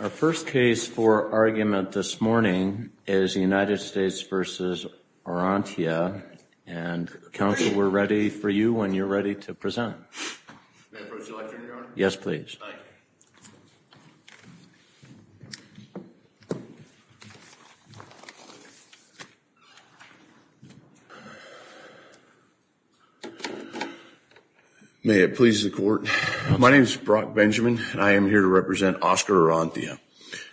Our first case for argument this morning is the United States v. Orrantia, and Counsel, we're ready for you when you're ready to present. May I approach the lectern, Your Honor? Yes, please. Thank you. May it please the Court. My name is Brock Benjamin, and I am here to represent Oscar Orrantia.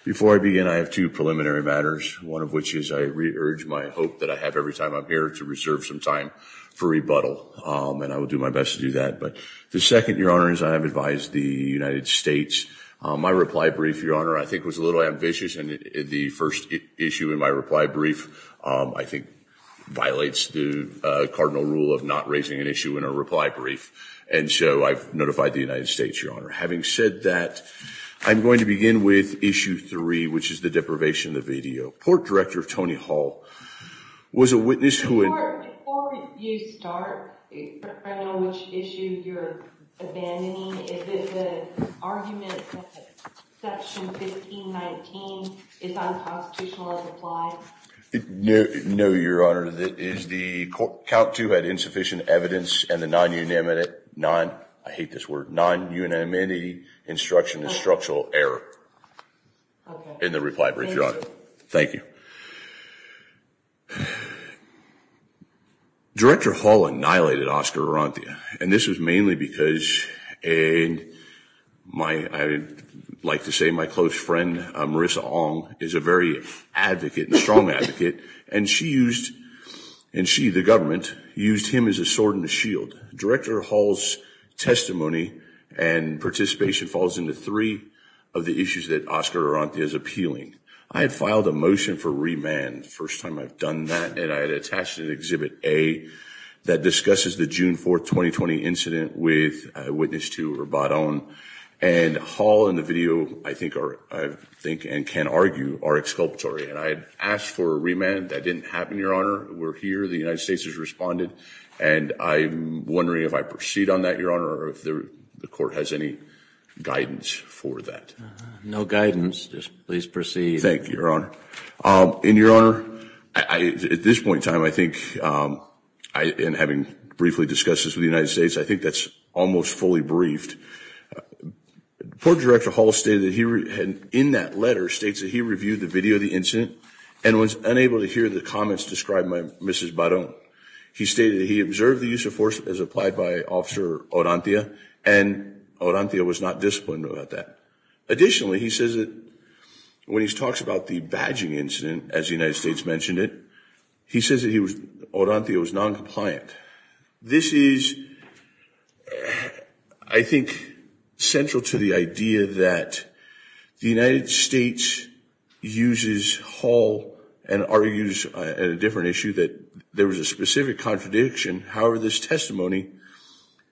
Before I begin, I have two preliminary matters, one of which is I re-urge my hope that I have every time I'm here to reserve some time for rebuttal, and I will do my best to do that. But the second, Your Honor, is I have advised the United States. My reply brief, Your Honor, I think was a little ambitious, and the first issue in my reply brief I think violates the cardinal rule of not raising an issue in a reply brief. And so I've notified the United States, Your Honor. Having said that, I'm going to begin with issue three, which is the deprivation of the video. Before you start, I don't know which issue you're abandoning. Is it the argument that section 1519 is unconstitutional as applied? No, Your Honor. That is the count two had insufficient evidence, and the non-unanimity instruction is structural error in the reply brief, Your Honor. Thank you. Director Hall annihilated Oscar Arantia, and this was mainly because my, I would like to say my close friend, Marissa Ong, is a very advocate, strong advocate, and she used, and she, the government, used him as a sword and a shield. Director Hall's testimony and participation falls into three of the issues that Oscar Arantia is appealing. I had filed a motion for remand, first time I've done that, and I had attached an Exhibit A that discusses the June 4th, 2020, incident with a witness to Rabat-Ong. And Hall and the video, I think, and can argue, are exculpatory. And I had asked for a remand. That didn't happen, Your Honor. We're here. The United States has responded, and I'm wondering if I proceed on that, Your Honor, or if the court has any guidance for that. No guidance. Just please proceed. Thank you, Your Honor. And, Your Honor, at this point in time, I think, in having briefly discussed this with the United States, I think that's almost fully briefed. Court Director Hall stated that he, in that letter, states that he reviewed the video of the incident and was unable to hear the comments described by Mrs. Barong. He stated that he observed the use of force as applied by Officer Arantia, and Arantia was not disciplined about that. Additionally, he says that when he talks about the badging incident, as the United States mentioned it, he says that Arantia was noncompliant. This is, I think, central to the idea that the United States uses Hall and argues at a different issue that there was a specific contradiction. However, this testimony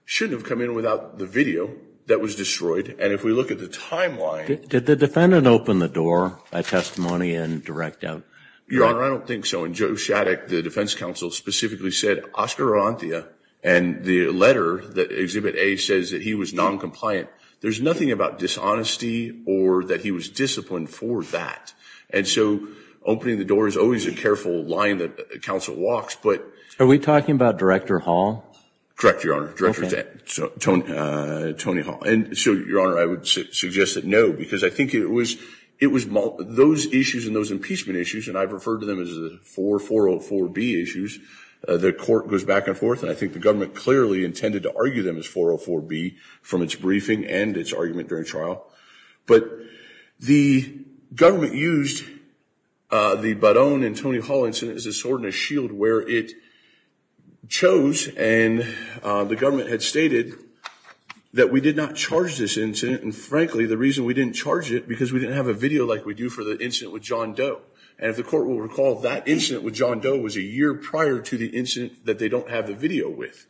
shouldn't have come in without the video that was destroyed. And if we look at the timeline... Did the defendant open the door by testimony and direct out? Your Honor, I don't think so. And Joe Shaddock, the defense counsel, specifically said Oscar Arantia and the letter that Exhibit A says that he was noncompliant. There's nothing about dishonesty or that he was disciplined for that. And so opening the door is always a careful line that counsel walks, but... Are we talking about Director Hall? Correct, Your Honor. Director Tony Hall. And so, Your Honor, I would suggest that no, because I think it was those issues and those impeachment issues, and I've referred to them as the 404B issues. The court goes back and forth, and I think the government clearly intended to argue them as 404B from its briefing and its argument during trial. But the government used the Barone and Tony Hall incident as a sword and a shield where it chose, and the government had stated that we did not charge this incident. And frankly, the reason we didn't charge it, because we didn't have a video like we do for the incident with John Doe. And if the court will recall, that incident with John Doe was a year prior to the incident that they don't have the video with.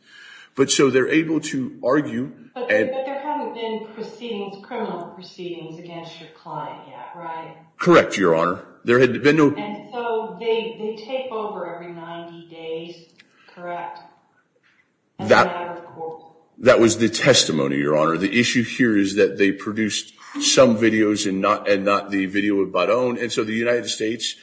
But so they're able to argue... But there haven't been proceedings, criminal proceedings against your client yet, right? Correct, Your Honor. There had been no... And so they take over every 90 days, correct? That was the testimony, Your Honor. The issue here is that they produced some videos and not the video with Barone, and so the United States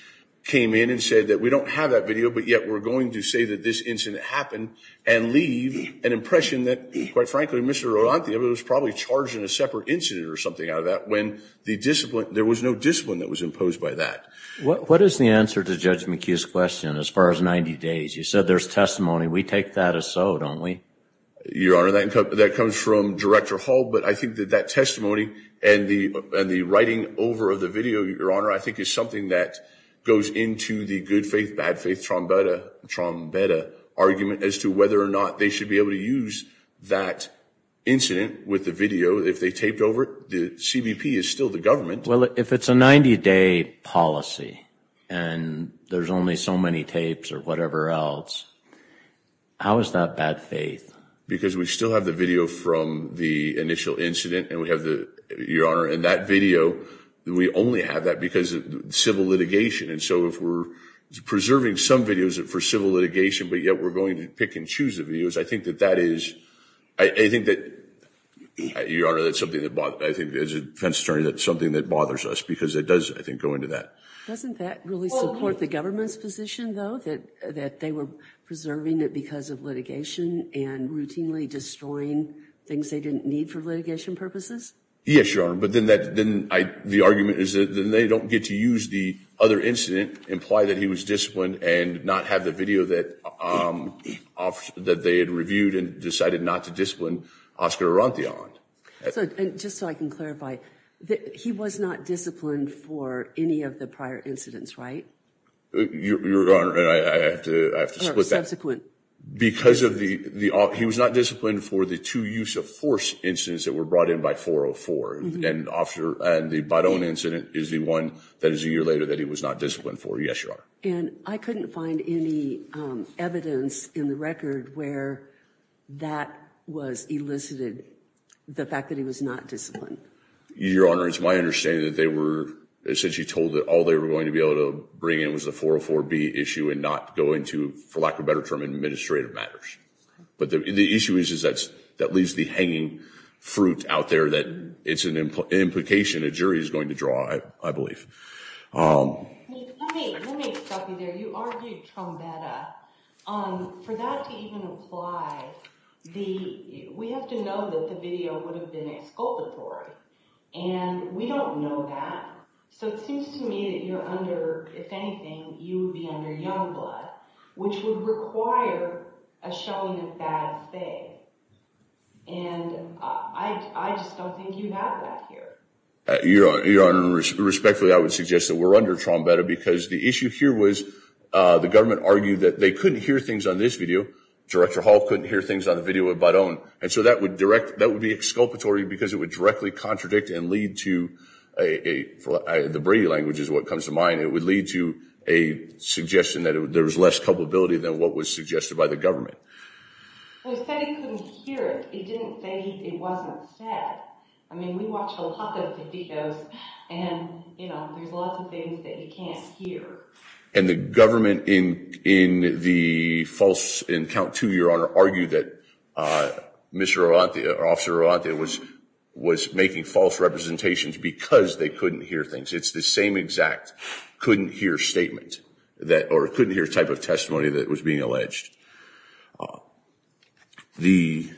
came in and said that we don't have that video, but yet we're going to say that this incident happened and leave an impression that, quite frankly, Mr. Arantia was probably charged in a separate incident or something out of that, when there was no discipline that was imposed by that. What is the answer to Judge McHugh's question as far as 90 days? You said there's testimony. We take that as so, don't we? Your Honor, that comes from Director Hall, but I think that that testimony and the writing over of the video, Your Honor, I think is something that goes into the good faith, bad faith, trombetta argument as to whether or not they should be able to use that incident with the video. If they taped over it, the CBP is still the government. Well, if it's a 90-day policy and there's only so many tapes or whatever else, how is that bad faith? Because we still have the video from the initial incident, and we have the, Your Honor, and that video, we only have that because of civil litigation. And so if we're preserving some videos for civil litigation, but yet we're going to pick and choose the videos, I think that that is, I think that, Your Honor, that's something that bothers, I think as a defense attorney, that's something that bothers us because it does, I think, go into that. Doesn't that really support the government's position, though, that they were preserving it because of litigation and routinely destroying things they didn't need for litigation purposes? Yes, Your Honor, but then the argument is that they don't get to use the other incident, imply that he was disciplined, and not have the video that they had reviewed and decided not to discipline Oscar Arantillon. Just so I can clarify, he was not disciplined for any of the prior incidents, right? Your Honor, I have to split that. Because of the, he was not disciplined for the two use of force incidents that were brought in by 404, and the Bidone incident is the one that is a year later that he was not disciplined for, yes, Your Honor. And I couldn't find any evidence in the record where that was elicited, the fact that he was not disciplined. Your Honor, it's my understanding that they were essentially told that all they were going to be able to bring in was the 404B issue and not go into, for lack of a better term, administrative matters. But the issue is that leaves the hanging fruit out there that it's an implication a jury is going to draw, I believe. Let me stop you there. You argued Trombetta. For that to even apply, we have to know that the video would have been exculpatory. And we don't know that. So it seems to me that you're under, if anything, you would be under young blood, which would require a showing of bad faith. And I just don't think you have that here. Your Honor, respectfully, I would suggest that we're under Trombetta because the issue here was the government argued that they couldn't hear things on this video. Director Hall couldn't hear things on the video of Bidone. And so that would direct, that would be exculpatory because it would directly contradict and lead to a, the Brady language is what comes to mind, it would lead to a suggestion that there was less culpability than what was suggested by the government. Well, he said he couldn't hear it. He didn't say it wasn't said. I mean, we watch a lot of videos and, you know, there's lots of things that you can't hear. And the government in the false, in count two, Your Honor, argued that Mr. Orlante or Officer Orlante was making false representations because they couldn't hear things. It's the same exact couldn't hear statement that, or couldn't hear type of testimony that was being alleged. The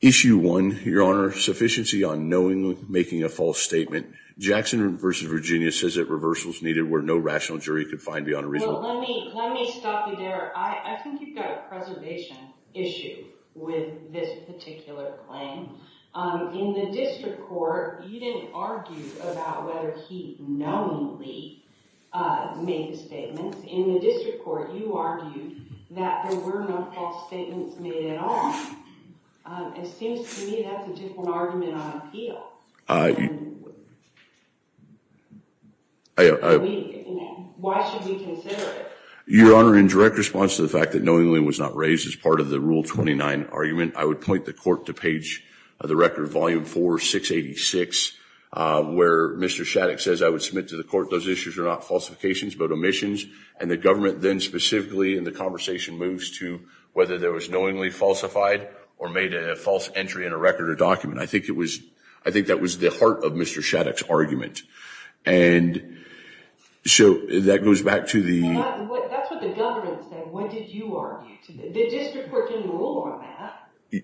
issue one, Your Honor, sufficiency on knowingly making a false statement. Jackson versus Virginia says that reversal is needed where no rational jury could find beyond a reasonable. Let me stop you there. I think you've got a preservation issue with this particular claim. In the district court, you didn't argue about whether he knowingly made the statements. In the district court, you argued that there were no false statements made at all. It seems to me that's a different argument on appeal. Why should we consider it? Your Honor, in direct response to the fact that knowingly was not raised as part of the Rule 29 argument, I would point the court to page of the record, Volume 4, 686, where Mr. Shattuck says, I would submit to the court those issues are not falsifications but omissions, and the government then specifically in the conversation moves to whether there was knowingly falsified or made a false entry in a record or document. I think that was the heart of Mr. Shattuck's argument. And so that goes back to the – That's what the government said. What did you argue? The district court didn't rule on that.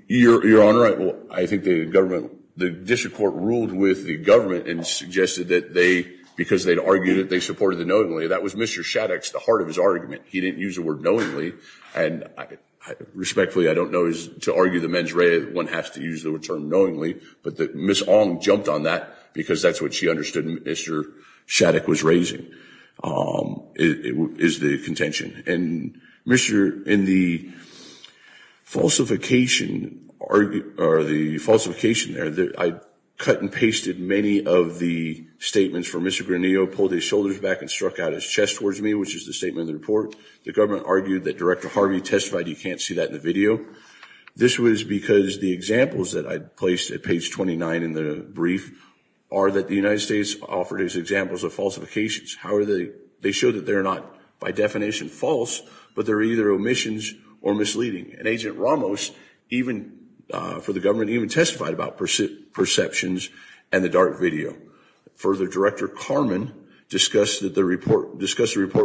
Your Honor, I think the district court ruled with the government and suggested that they, because they'd argued it, they supported the knowingly. That was Mr. Shattuck's, the heart of his argument. He didn't use the word knowingly. And respectfully, I don't know, to argue the mens rea, one has to use the term knowingly. But Ms. Ong jumped on that because that's what she understood Mr. Shattuck was raising, is the contention. And Mr. – in the falsification – or the falsification there, I cut and pasted many of the statements from Mr. Granillo, pulled his shoulders back and struck out his chest towards me, which is the statement in the report. The government argued that Director Harvey testified. You can't see that in the video. This was because the examples that I placed at page 29 in the brief are that the United States offered as examples of falsifications. However, they show that they're not by definition false, but they're either omissions or misleading. And Agent Ramos, even for the government, even testified about perceptions and the dark video. Further, Director Carman discussed the report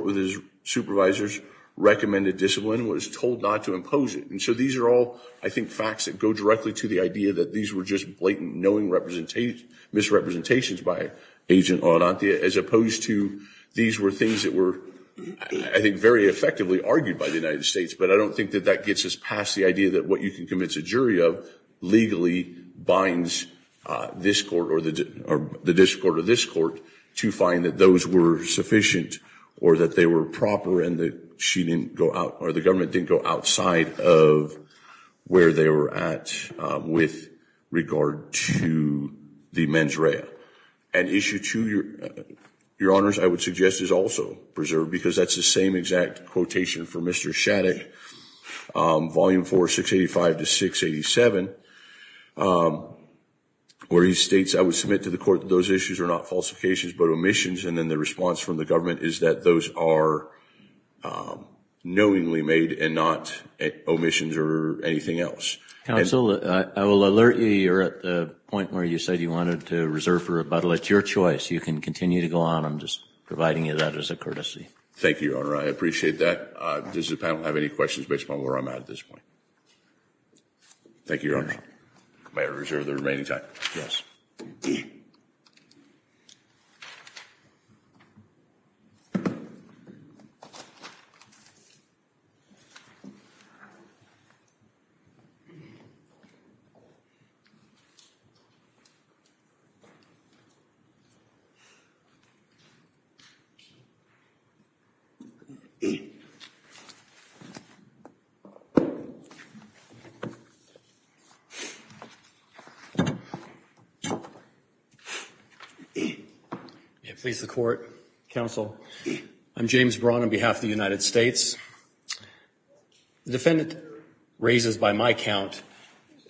with his supervisors, recommended discipline and was told not to impose it. And so these are all, I think, facts that go directly to the idea that these were just blatant misrepresentations by Agent Orantia as opposed to these were things that were, I think, very effectively argued by the United States. But I don't think that that gets us past the idea that what you can convince a jury of legally binds this court or the district court or this court to find that those were sufficient or that they were proper and that she didn't go out or the government didn't go outside of where they were at with regard to the mens rea. And Issue 2, Your Honors, I would suggest is also preserved because that's the same exact quotation from Mr. Shattuck, Volume 4, 685 to 687, where he states, I would submit to the court that those issues are not falsifications but omissions. And then the response from the government is that those are knowingly made and not omissions or anything else. Counsel, I will alert you. You're at the point where you said you wanted to reserve for rebuttal. It's your choice. You can continue to go on. I'm just providing you that as a courtesy. Thank you, Your Honor. I appreciate that. Does the panel have any questions based on where I'm at at this point? Thank you, Your Honor. May I reserve the remaining time? Yes. Thank you. Counsel, I'm James Braun on behalf of the United States. The defendant raises, by my count,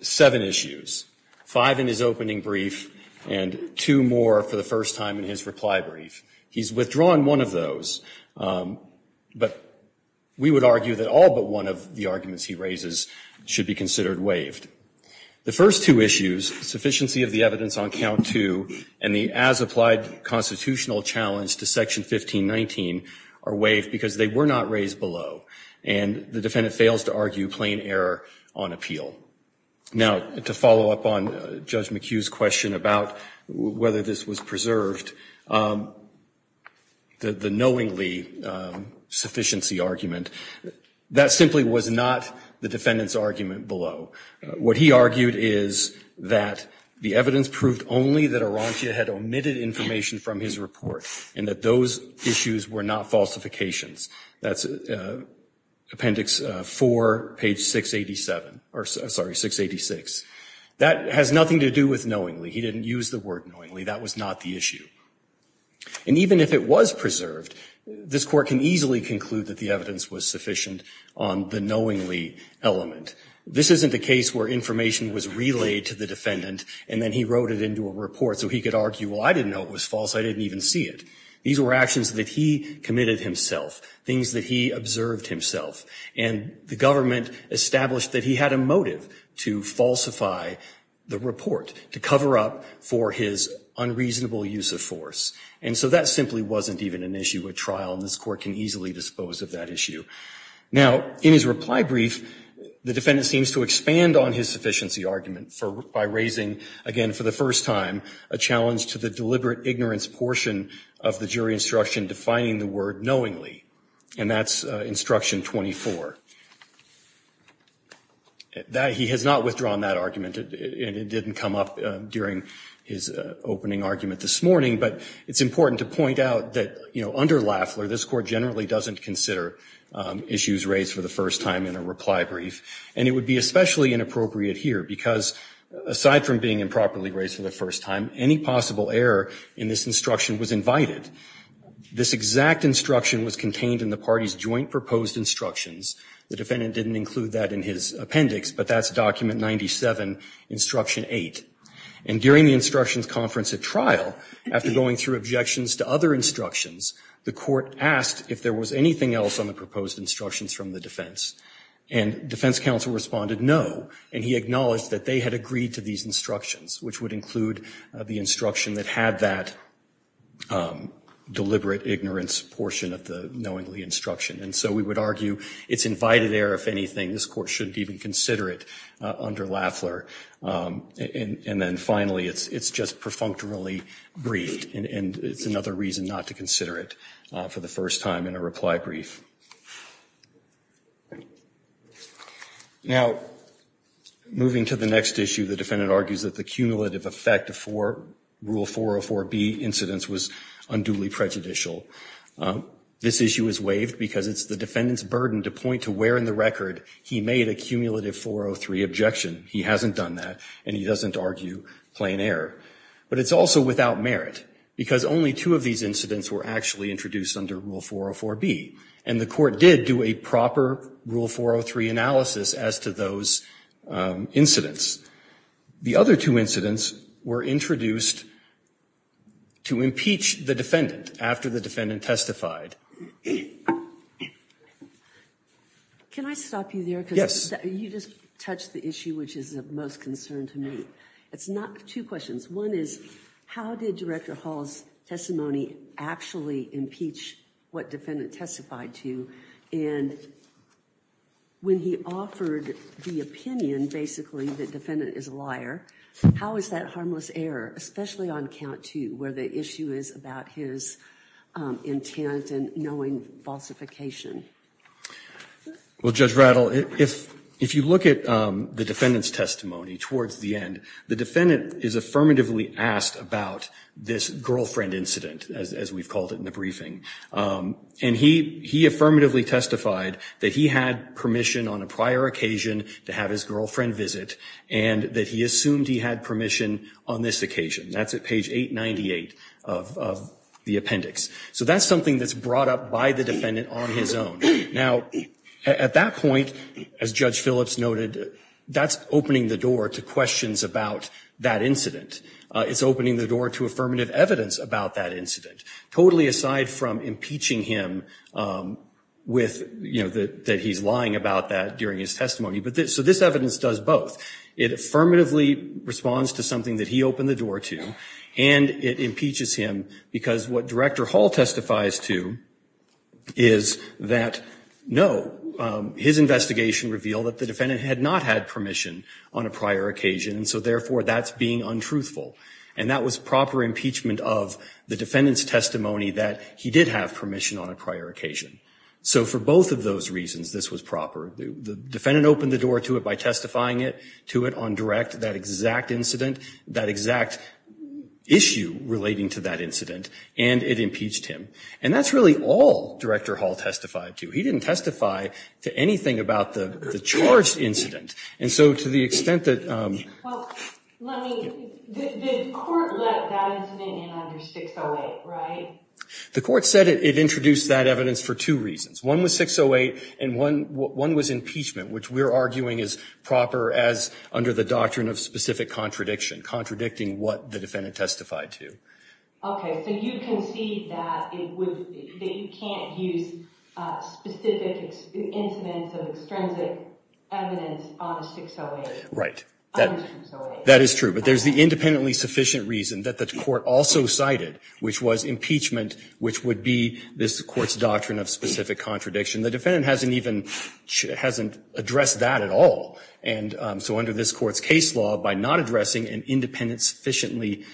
seven issues, five in his opening brief and two more for the first time in his reply brief. He's withdrawn one of those, but we would argue that all but one of the arguments he raises should be considered waived. The first two issues, sufficiency of the evidence on count two, and the as-applied constitutional challenge to Section 1519, are waived because they were not raised below, and the defendant fails to argue plain error on appeal. Now, to follow up on Judge McHugh's question about whether this was preserved, the knowingly sufficiency argument, that simply was not the defendant's argument below. What he argued is that the evidence proved only that Arantia had omitted information from his report and that those issues were not falsifications. That's Appendix 4, page 686. That has nothing to do with knowingly. He didn't use the word knowingly. That was not the issue. And even if it was preserved, this Court can easily conclude that the evidence was sufficient on the knowingly element. This isn't a case where information was relayed to the defendant and then he wrote it into a report so he could argue, well, I didn't know it was false. I didn't even see it. These were actions that he committed himself, things that he observed himself, and the government established that he had a motive to falsify the report, to cover up for his unreasonable use of force. And so that simply wasn't even an issue at trial, and this Court can easily dispose of that issue. Now, in his reply brief, the defendant seems to expand on his sufficiency argument by raising, again, for the first time, a challenge to the deliberate ignorance portion of the jury instruction defining the word knowingly, and that's Instruction 24. He has not withdrawn that argument, and it didn't come up during his opening argument this morning, but it's important to point out that, you know, under Lafler, this Court generally doesn't consider issues raised for the first time in a reply brief, and it would be especially inappropriate here because, aside from being improperly raised for the first time, any possible error in this instruction was invited. This exact instruction was contained in the party's joint proposed instructions, the defendant didn't include that in his appendix, but that's Document 97, Instruction 8. And during the instructions conference at trial, after going through objections to other instructions, the Court asked if there was anything else on the proposed instructions from the defense, and defense counsel responded no, and he acknowledged that they had agreed to these instructions, which would include the instruction that had that deliberate ignorance portion of the knowingly instruction. And so we would argue it's invited error, if anything, this Court shouldn't even consider it under Lafler. And then finally, it's just perfunctorily briefed, and it's another reason not to consider it for the first time in a reply brief. Now, moving to the next issue, the defendant argues that the cumulative effect for Rule 404B incidents was unduly prejudicial. This issue is waived because it's the defendant's burden to point to where in the record he made a cumulative 403 objection. He hasn't done that, and he doesn't argue plain error. But it's also without merit, because only two of these incidents were actually introduced under Rule 404B, and the Court did do a proper Rule 403 analysis as to those incidents. The other two incidents were introduced to impeach the defendant after the defendant testified. Can I stop you there? Yes. You just touched the issue which is of most concern to me. It's not two questions. One is, how did Director Hall's testimony actually impeach what defendant testified to? And when he offered the opinion, basically, that defendant is a liar, how is that harmless error, especially on count two where the issue is about his intent and knowing falsification? Well, Judge Rattle, if you look at the defendant's testimony towards the end, the defendant is affirmatively asked about this girlfriend incident, as we've called it in the briefing. And he affirmatively testified that he had permission on a prior occasion to have his girlfriend visit, and that he assumed he had permission on this occasion. That's at page 898 of the appendix. So that's something that's brought up by the defendant on his own. Now, at that point, as Judge Phillips noted, that's opening the door to questions about that incident. It's opening the door to affirmative evidence about that incident. Totally aside from impeaching him with, you know, that he's lying about that during his testimony. So this evidence does both. It affirmatively responds to something that he opened the door to, and it impeaches him because what Director Hall testifies to is that, no, his investigation revealed that the defendant had not had permission on a prior occasion, and so, therefore, that's being untruthful. And that was proper impeachment of the defendant's testimony that he did have permission on a prior occasion. So for both of those reasons, this was proper. The defendant opened the door to it by testifying to it on direct, that exact incident, that exact issue relating to that incident, and it impeached him. And that's really all Director Hall testified to. He didn't testify to anything about the charged incident. And so to the extent that... Well, let me... The court let that incident in under 608, right? The court said it introduced that evidence for two reasons. One was 608, and one was impeachment, which we're arguing is proper as under the doctrine of specific contradiction, contradicting what the defendant testified to. Okay. So you concede that it would... That you can't use specific incidents of extrinsic evidence on 608. Right. That is true. But there's the independently sufficient reason that the court also cited, which was impeachment, which would be this court's doctrine of specific contradiction. The defendant hasn't even... Hasn't addressed that at all. And so under this court's case law, by not addressing an independent sufficiently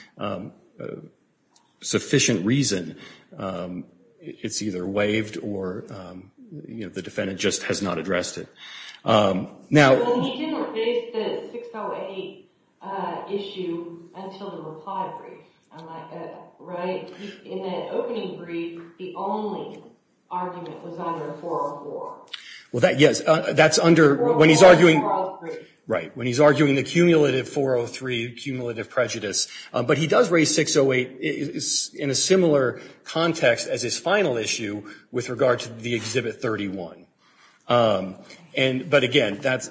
sufficient reason, it's either waived or, you know, the defendant just has not addressed it. Now... Well, that, yes, that's under... When he's arguing... Right. When he's arguing the cumulative 403, cumulative prejudice. But he does raise 608 in a similar context as his final issue with regard to the Exhibit 31. And, but again, that's...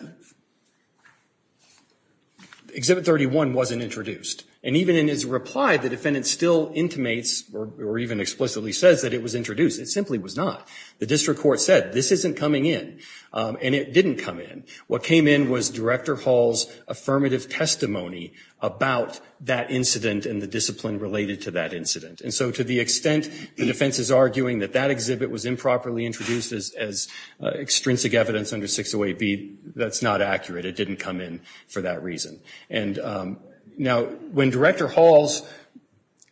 Exhibit 31 wasn't introduced. And even in his reply, the defendant still intimates or even explicitly says that it was introduced. It simply was not. The district court said, this isn't coming in. And it didn't come in. What came in was Director Hall's affirmative testimony about that incident and the discipline related to that incident. And so to the extent the defense is arguing that that exhibit was improperly introduced as extrinsic evidence under 608B, that's not accurate. It didn't come in for that reason. And now when Director Hall's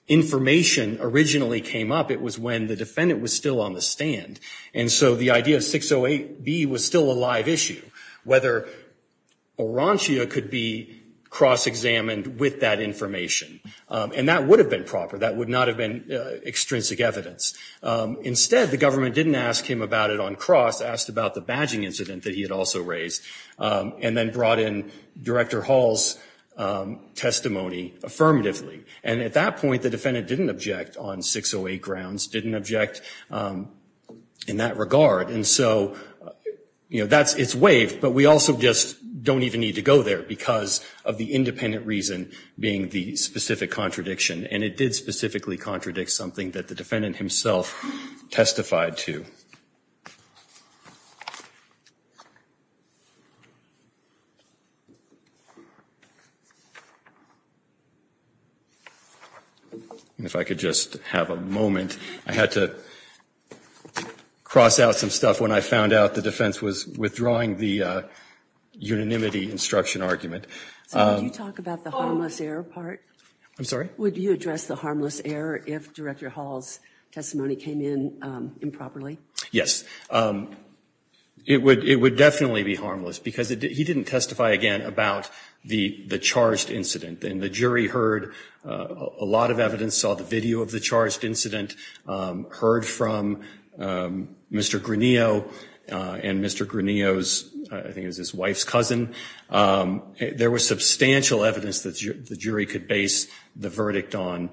information originally came up, it was when the defendant was still on the stand. And so the idea of 608B was still a live issue, whether Orantia could be cross-examined with that information. And that would have been proper. That would not have been extrinsic evidence. Instead, the government didn't ask him about it on cross, asked about the badging incident that he had also raised, and then brought in Director Hall's testimony affirmatively. And at that point, the defendant didn't object on 608 grounds, didn't object in that regard. And so it's waived, but we also just don't even need to go there because of the independent reason being the specific contradiction. And it did specifically contradict something that the defendant himself testified to. If I could just have a moment. I had to cross out some stuff when I found out the defense was withdrawing the unanimity instruction argument. Would you talk about the harmless error part? I'm sorry? Would you address the harmless error if Director Hall's testimony came in improperly? Yes. It would definitely be harmless because he didn't testify again about the charged incident. And the jury heard a lot of evidence, saw the video of the charged incident, heard from Mr. Granillo and Mr. Granillo's, I think it was his wife's cousin. There was substantial evidence that the jury could base the verdict on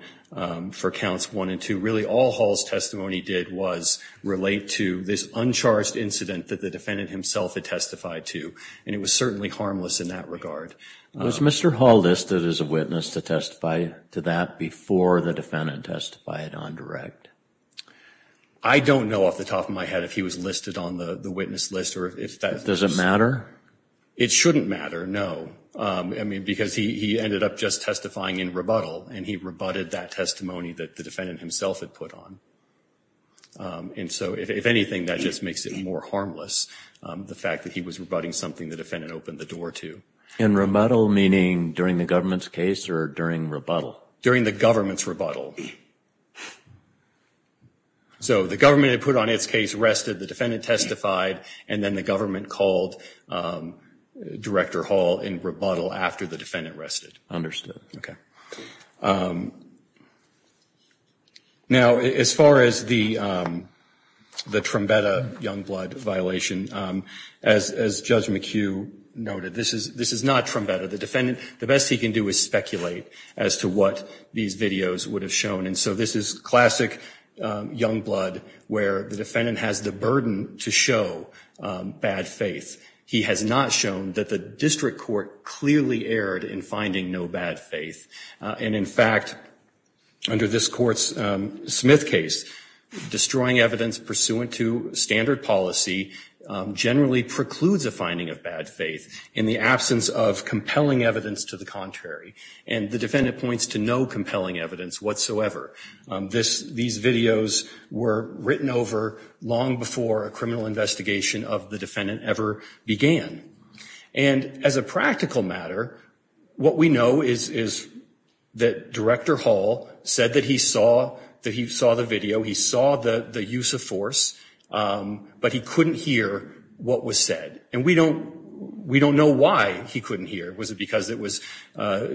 for counts one and two. Really, all Hall's testimony did was relate to this uncharged incident that the defendant himself had testified to. And it was certainly harmless in that regard. Was Mr. Hall listed as a witness to testify to that before the defendant testified on direct? I don't know off the top of my head if he was listed on the witness list. Does it matter? It shouldn't matter, no. I mean, because he ended up just testifying in rebuttal and he rebutted that testimony that the defendant himself had put on. And so, if anything, that just makes it more harmless, the fact that he was rebutting something the defendant opened the door to. In rebuttal, meaning during the government's case or during rebuttal? During the government's rebuttal. So the government had put on its case, rested, the defendant testified, and then the government called Director Hall in rebuttal after the defendant rested. Okay. Now, as far as the Trumbetta Youngblood violation, as Judge McHugh noted, this is not Trumbetta. The defendant, the best he can do is speculate as to what these videos would have shown. And so this is classic Youngblood where the defendant has the burden to show bad faith. He has not shown that the district court clearly erred in finding no bad faith. And, in fact, under this Court's Smith case, destroying evidence pursuant to standard policy generally precludes a finding of bad faith in the absence of compelling evidence to the contrary. And the defendant points to no compelling evidence whatsoever. These videos were written over long before a criminal investigation of the defendant ever began. And, as a practical matter, what we know is that Director Hall said that he saw the video, he saw the use of force, but he couldn't hear what was said. And we don't know why he couldn't hear. Was it because it was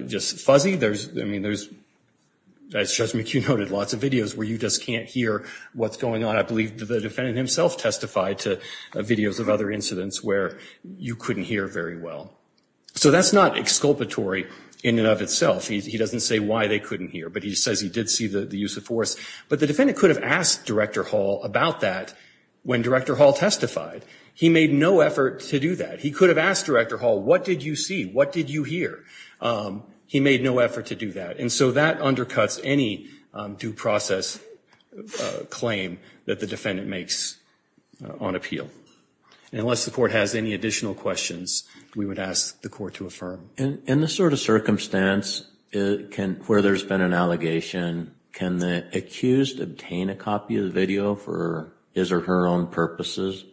just fuzzy? I mean, there's, as Judge McHugh noted, lots of videos where you just can't hear what's going on. I believe the defendant himself testified to videos of other incidents where you couldn't hear very well. So that's not exculpatory in and of itself. He doesn't say why they couldn't hear, but he says he did see the use of force. But the defendant could have asked Director Hall about that when Director Hall testified. He made no effort to do that. He could have asked Director Hall, what did you see? What did you hear? He made no effort to do that. And so that undercuts any due process claim that the defendant makes on appeal. Unless the court has any additional questions, we would ask the court to affirm. In this sort of circumstance where there's been an allegation, can the accused obtain a copy of the video for his or her own purposes?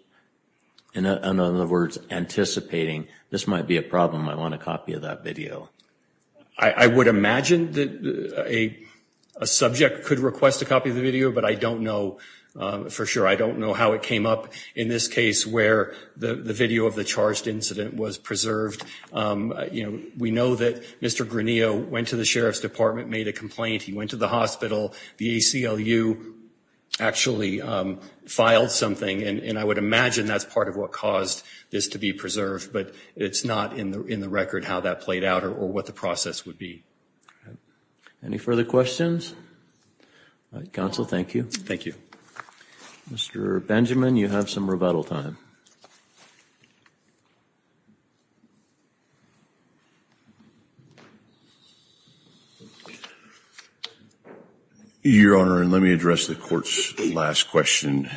In other words, anticipating this might be a problem, I want a copy of that video. I would imagine that a subject could request a copy of the video, but I don't know for sure. I don't know how it came up in this case where the video of the charged incident was preserved. You know, we know that Mr. Granillo went to the Sheriff's Department, made a complaint. He went to the hospital. The ACLU actually filed something, and I would imagine that's part of what caused this to be preserved. But it's not in the record how that played out or what the process would be. Any further questions? Counsel, thank you. Thank you. Mr. Benjamin, you have some rebuttal time. Your Honor, let me address the court's last question.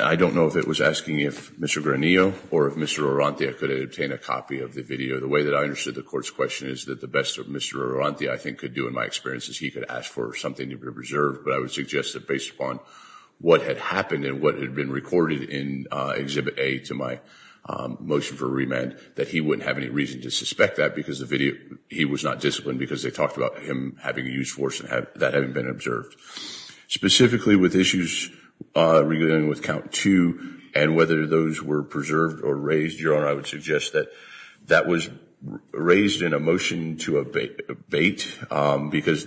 I don't know if it was asking if Mr. Granillo or if Mr. Arantia could obtain a copy of the video. The way that I understood the court's question is that the best that Mr. Arantia, I think, could do in my experience is he could ask for something to be preserved. But I would suggest that based upon what had happened and what had been recorded in Exhibit A to my motion for remand, that he wouldn't have any reason to suspect that because he was not disciplined because they talked about him having a use force and that having been observed. Specifically with issues regarding with Count 2 and whether those were preserved or raised, Your Honor, I would suggest that that was raised in a motion to abate because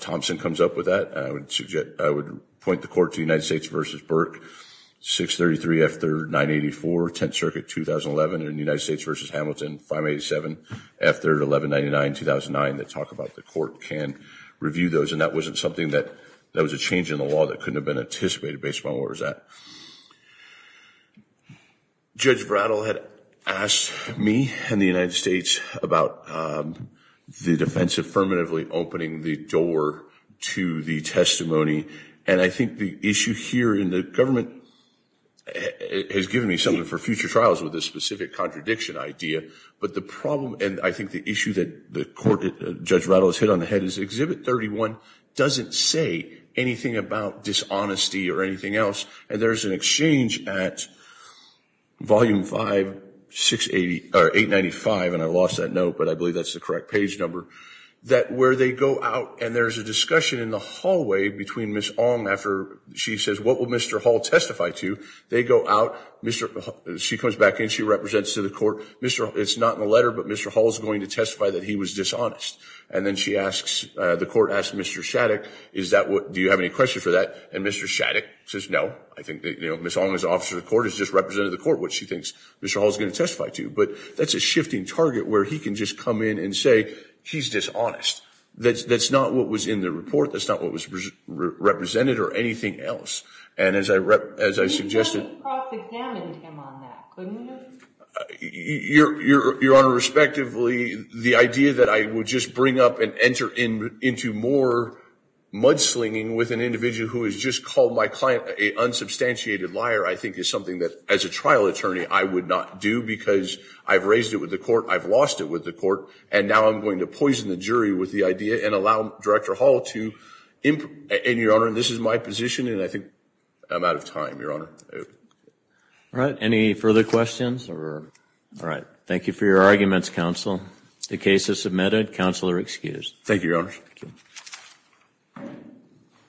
Thompson comes up with that. I would point the court to United States v. Burke, 633 F3rd 984, Tenth Circuit, 2011, and United States v. Hamilton, 587 F3rd 1199, 2009, that talk about the court can review those. And that wasn't something that was a change in the law that couldn't have been anticipated based upon where I was at. Judge Rattle had asked me and the United States about the defense affirmatively opening the door to the testimony. And I think the issue here in the government has given me something for future trials with this specific contradiction idea. But the problem and I think the issue that Judge Rattle has hit on the head is Exhibit 31 doesn't say anything about dishonesty or anything else. And there's an exchange at Volume 5, 895, and I lost that note, but I believe that's the correct page number, that where they go out and there's a discussion in the hallway between Ms. Ong after she says, what will Mr. Hall testify to? They go out. She comes back in. She represents to the court. It's not in the letter, but Mr. Hall is going to testify that he was dishonest. And then the court asks Mr. Shattuck, do you have any questions for that? And Mr. Shattuck says no. Ms. Ong is an officer of the court, has just represented the court, which she thinks Mr. Hall is going to testify to. But that's a shifting target where he can just come in and say he's dishonest. That's not what was in the report. That's not what was represented or anything else. And as I suggested – But Judge Cross examined him on that, couldn't he? Your Honor, respectively, the idea that I would just bring up and enter into more mudslinging with an individual who has just called my client an unsubstantiated liar I think is something that, as a trial attorney, I would not do because I've raised it with the court, I've lost it with the court, and now I'm going to poison the jury with the idea and allow Director Hall to improve. And, Your Honor, this is my position and I think I'm out of time, Your Honor. All right. Any further questions? All right. Thank you for your arguments, counsel. The case is submitted. Counsel are excused. Thank you, Your Honor.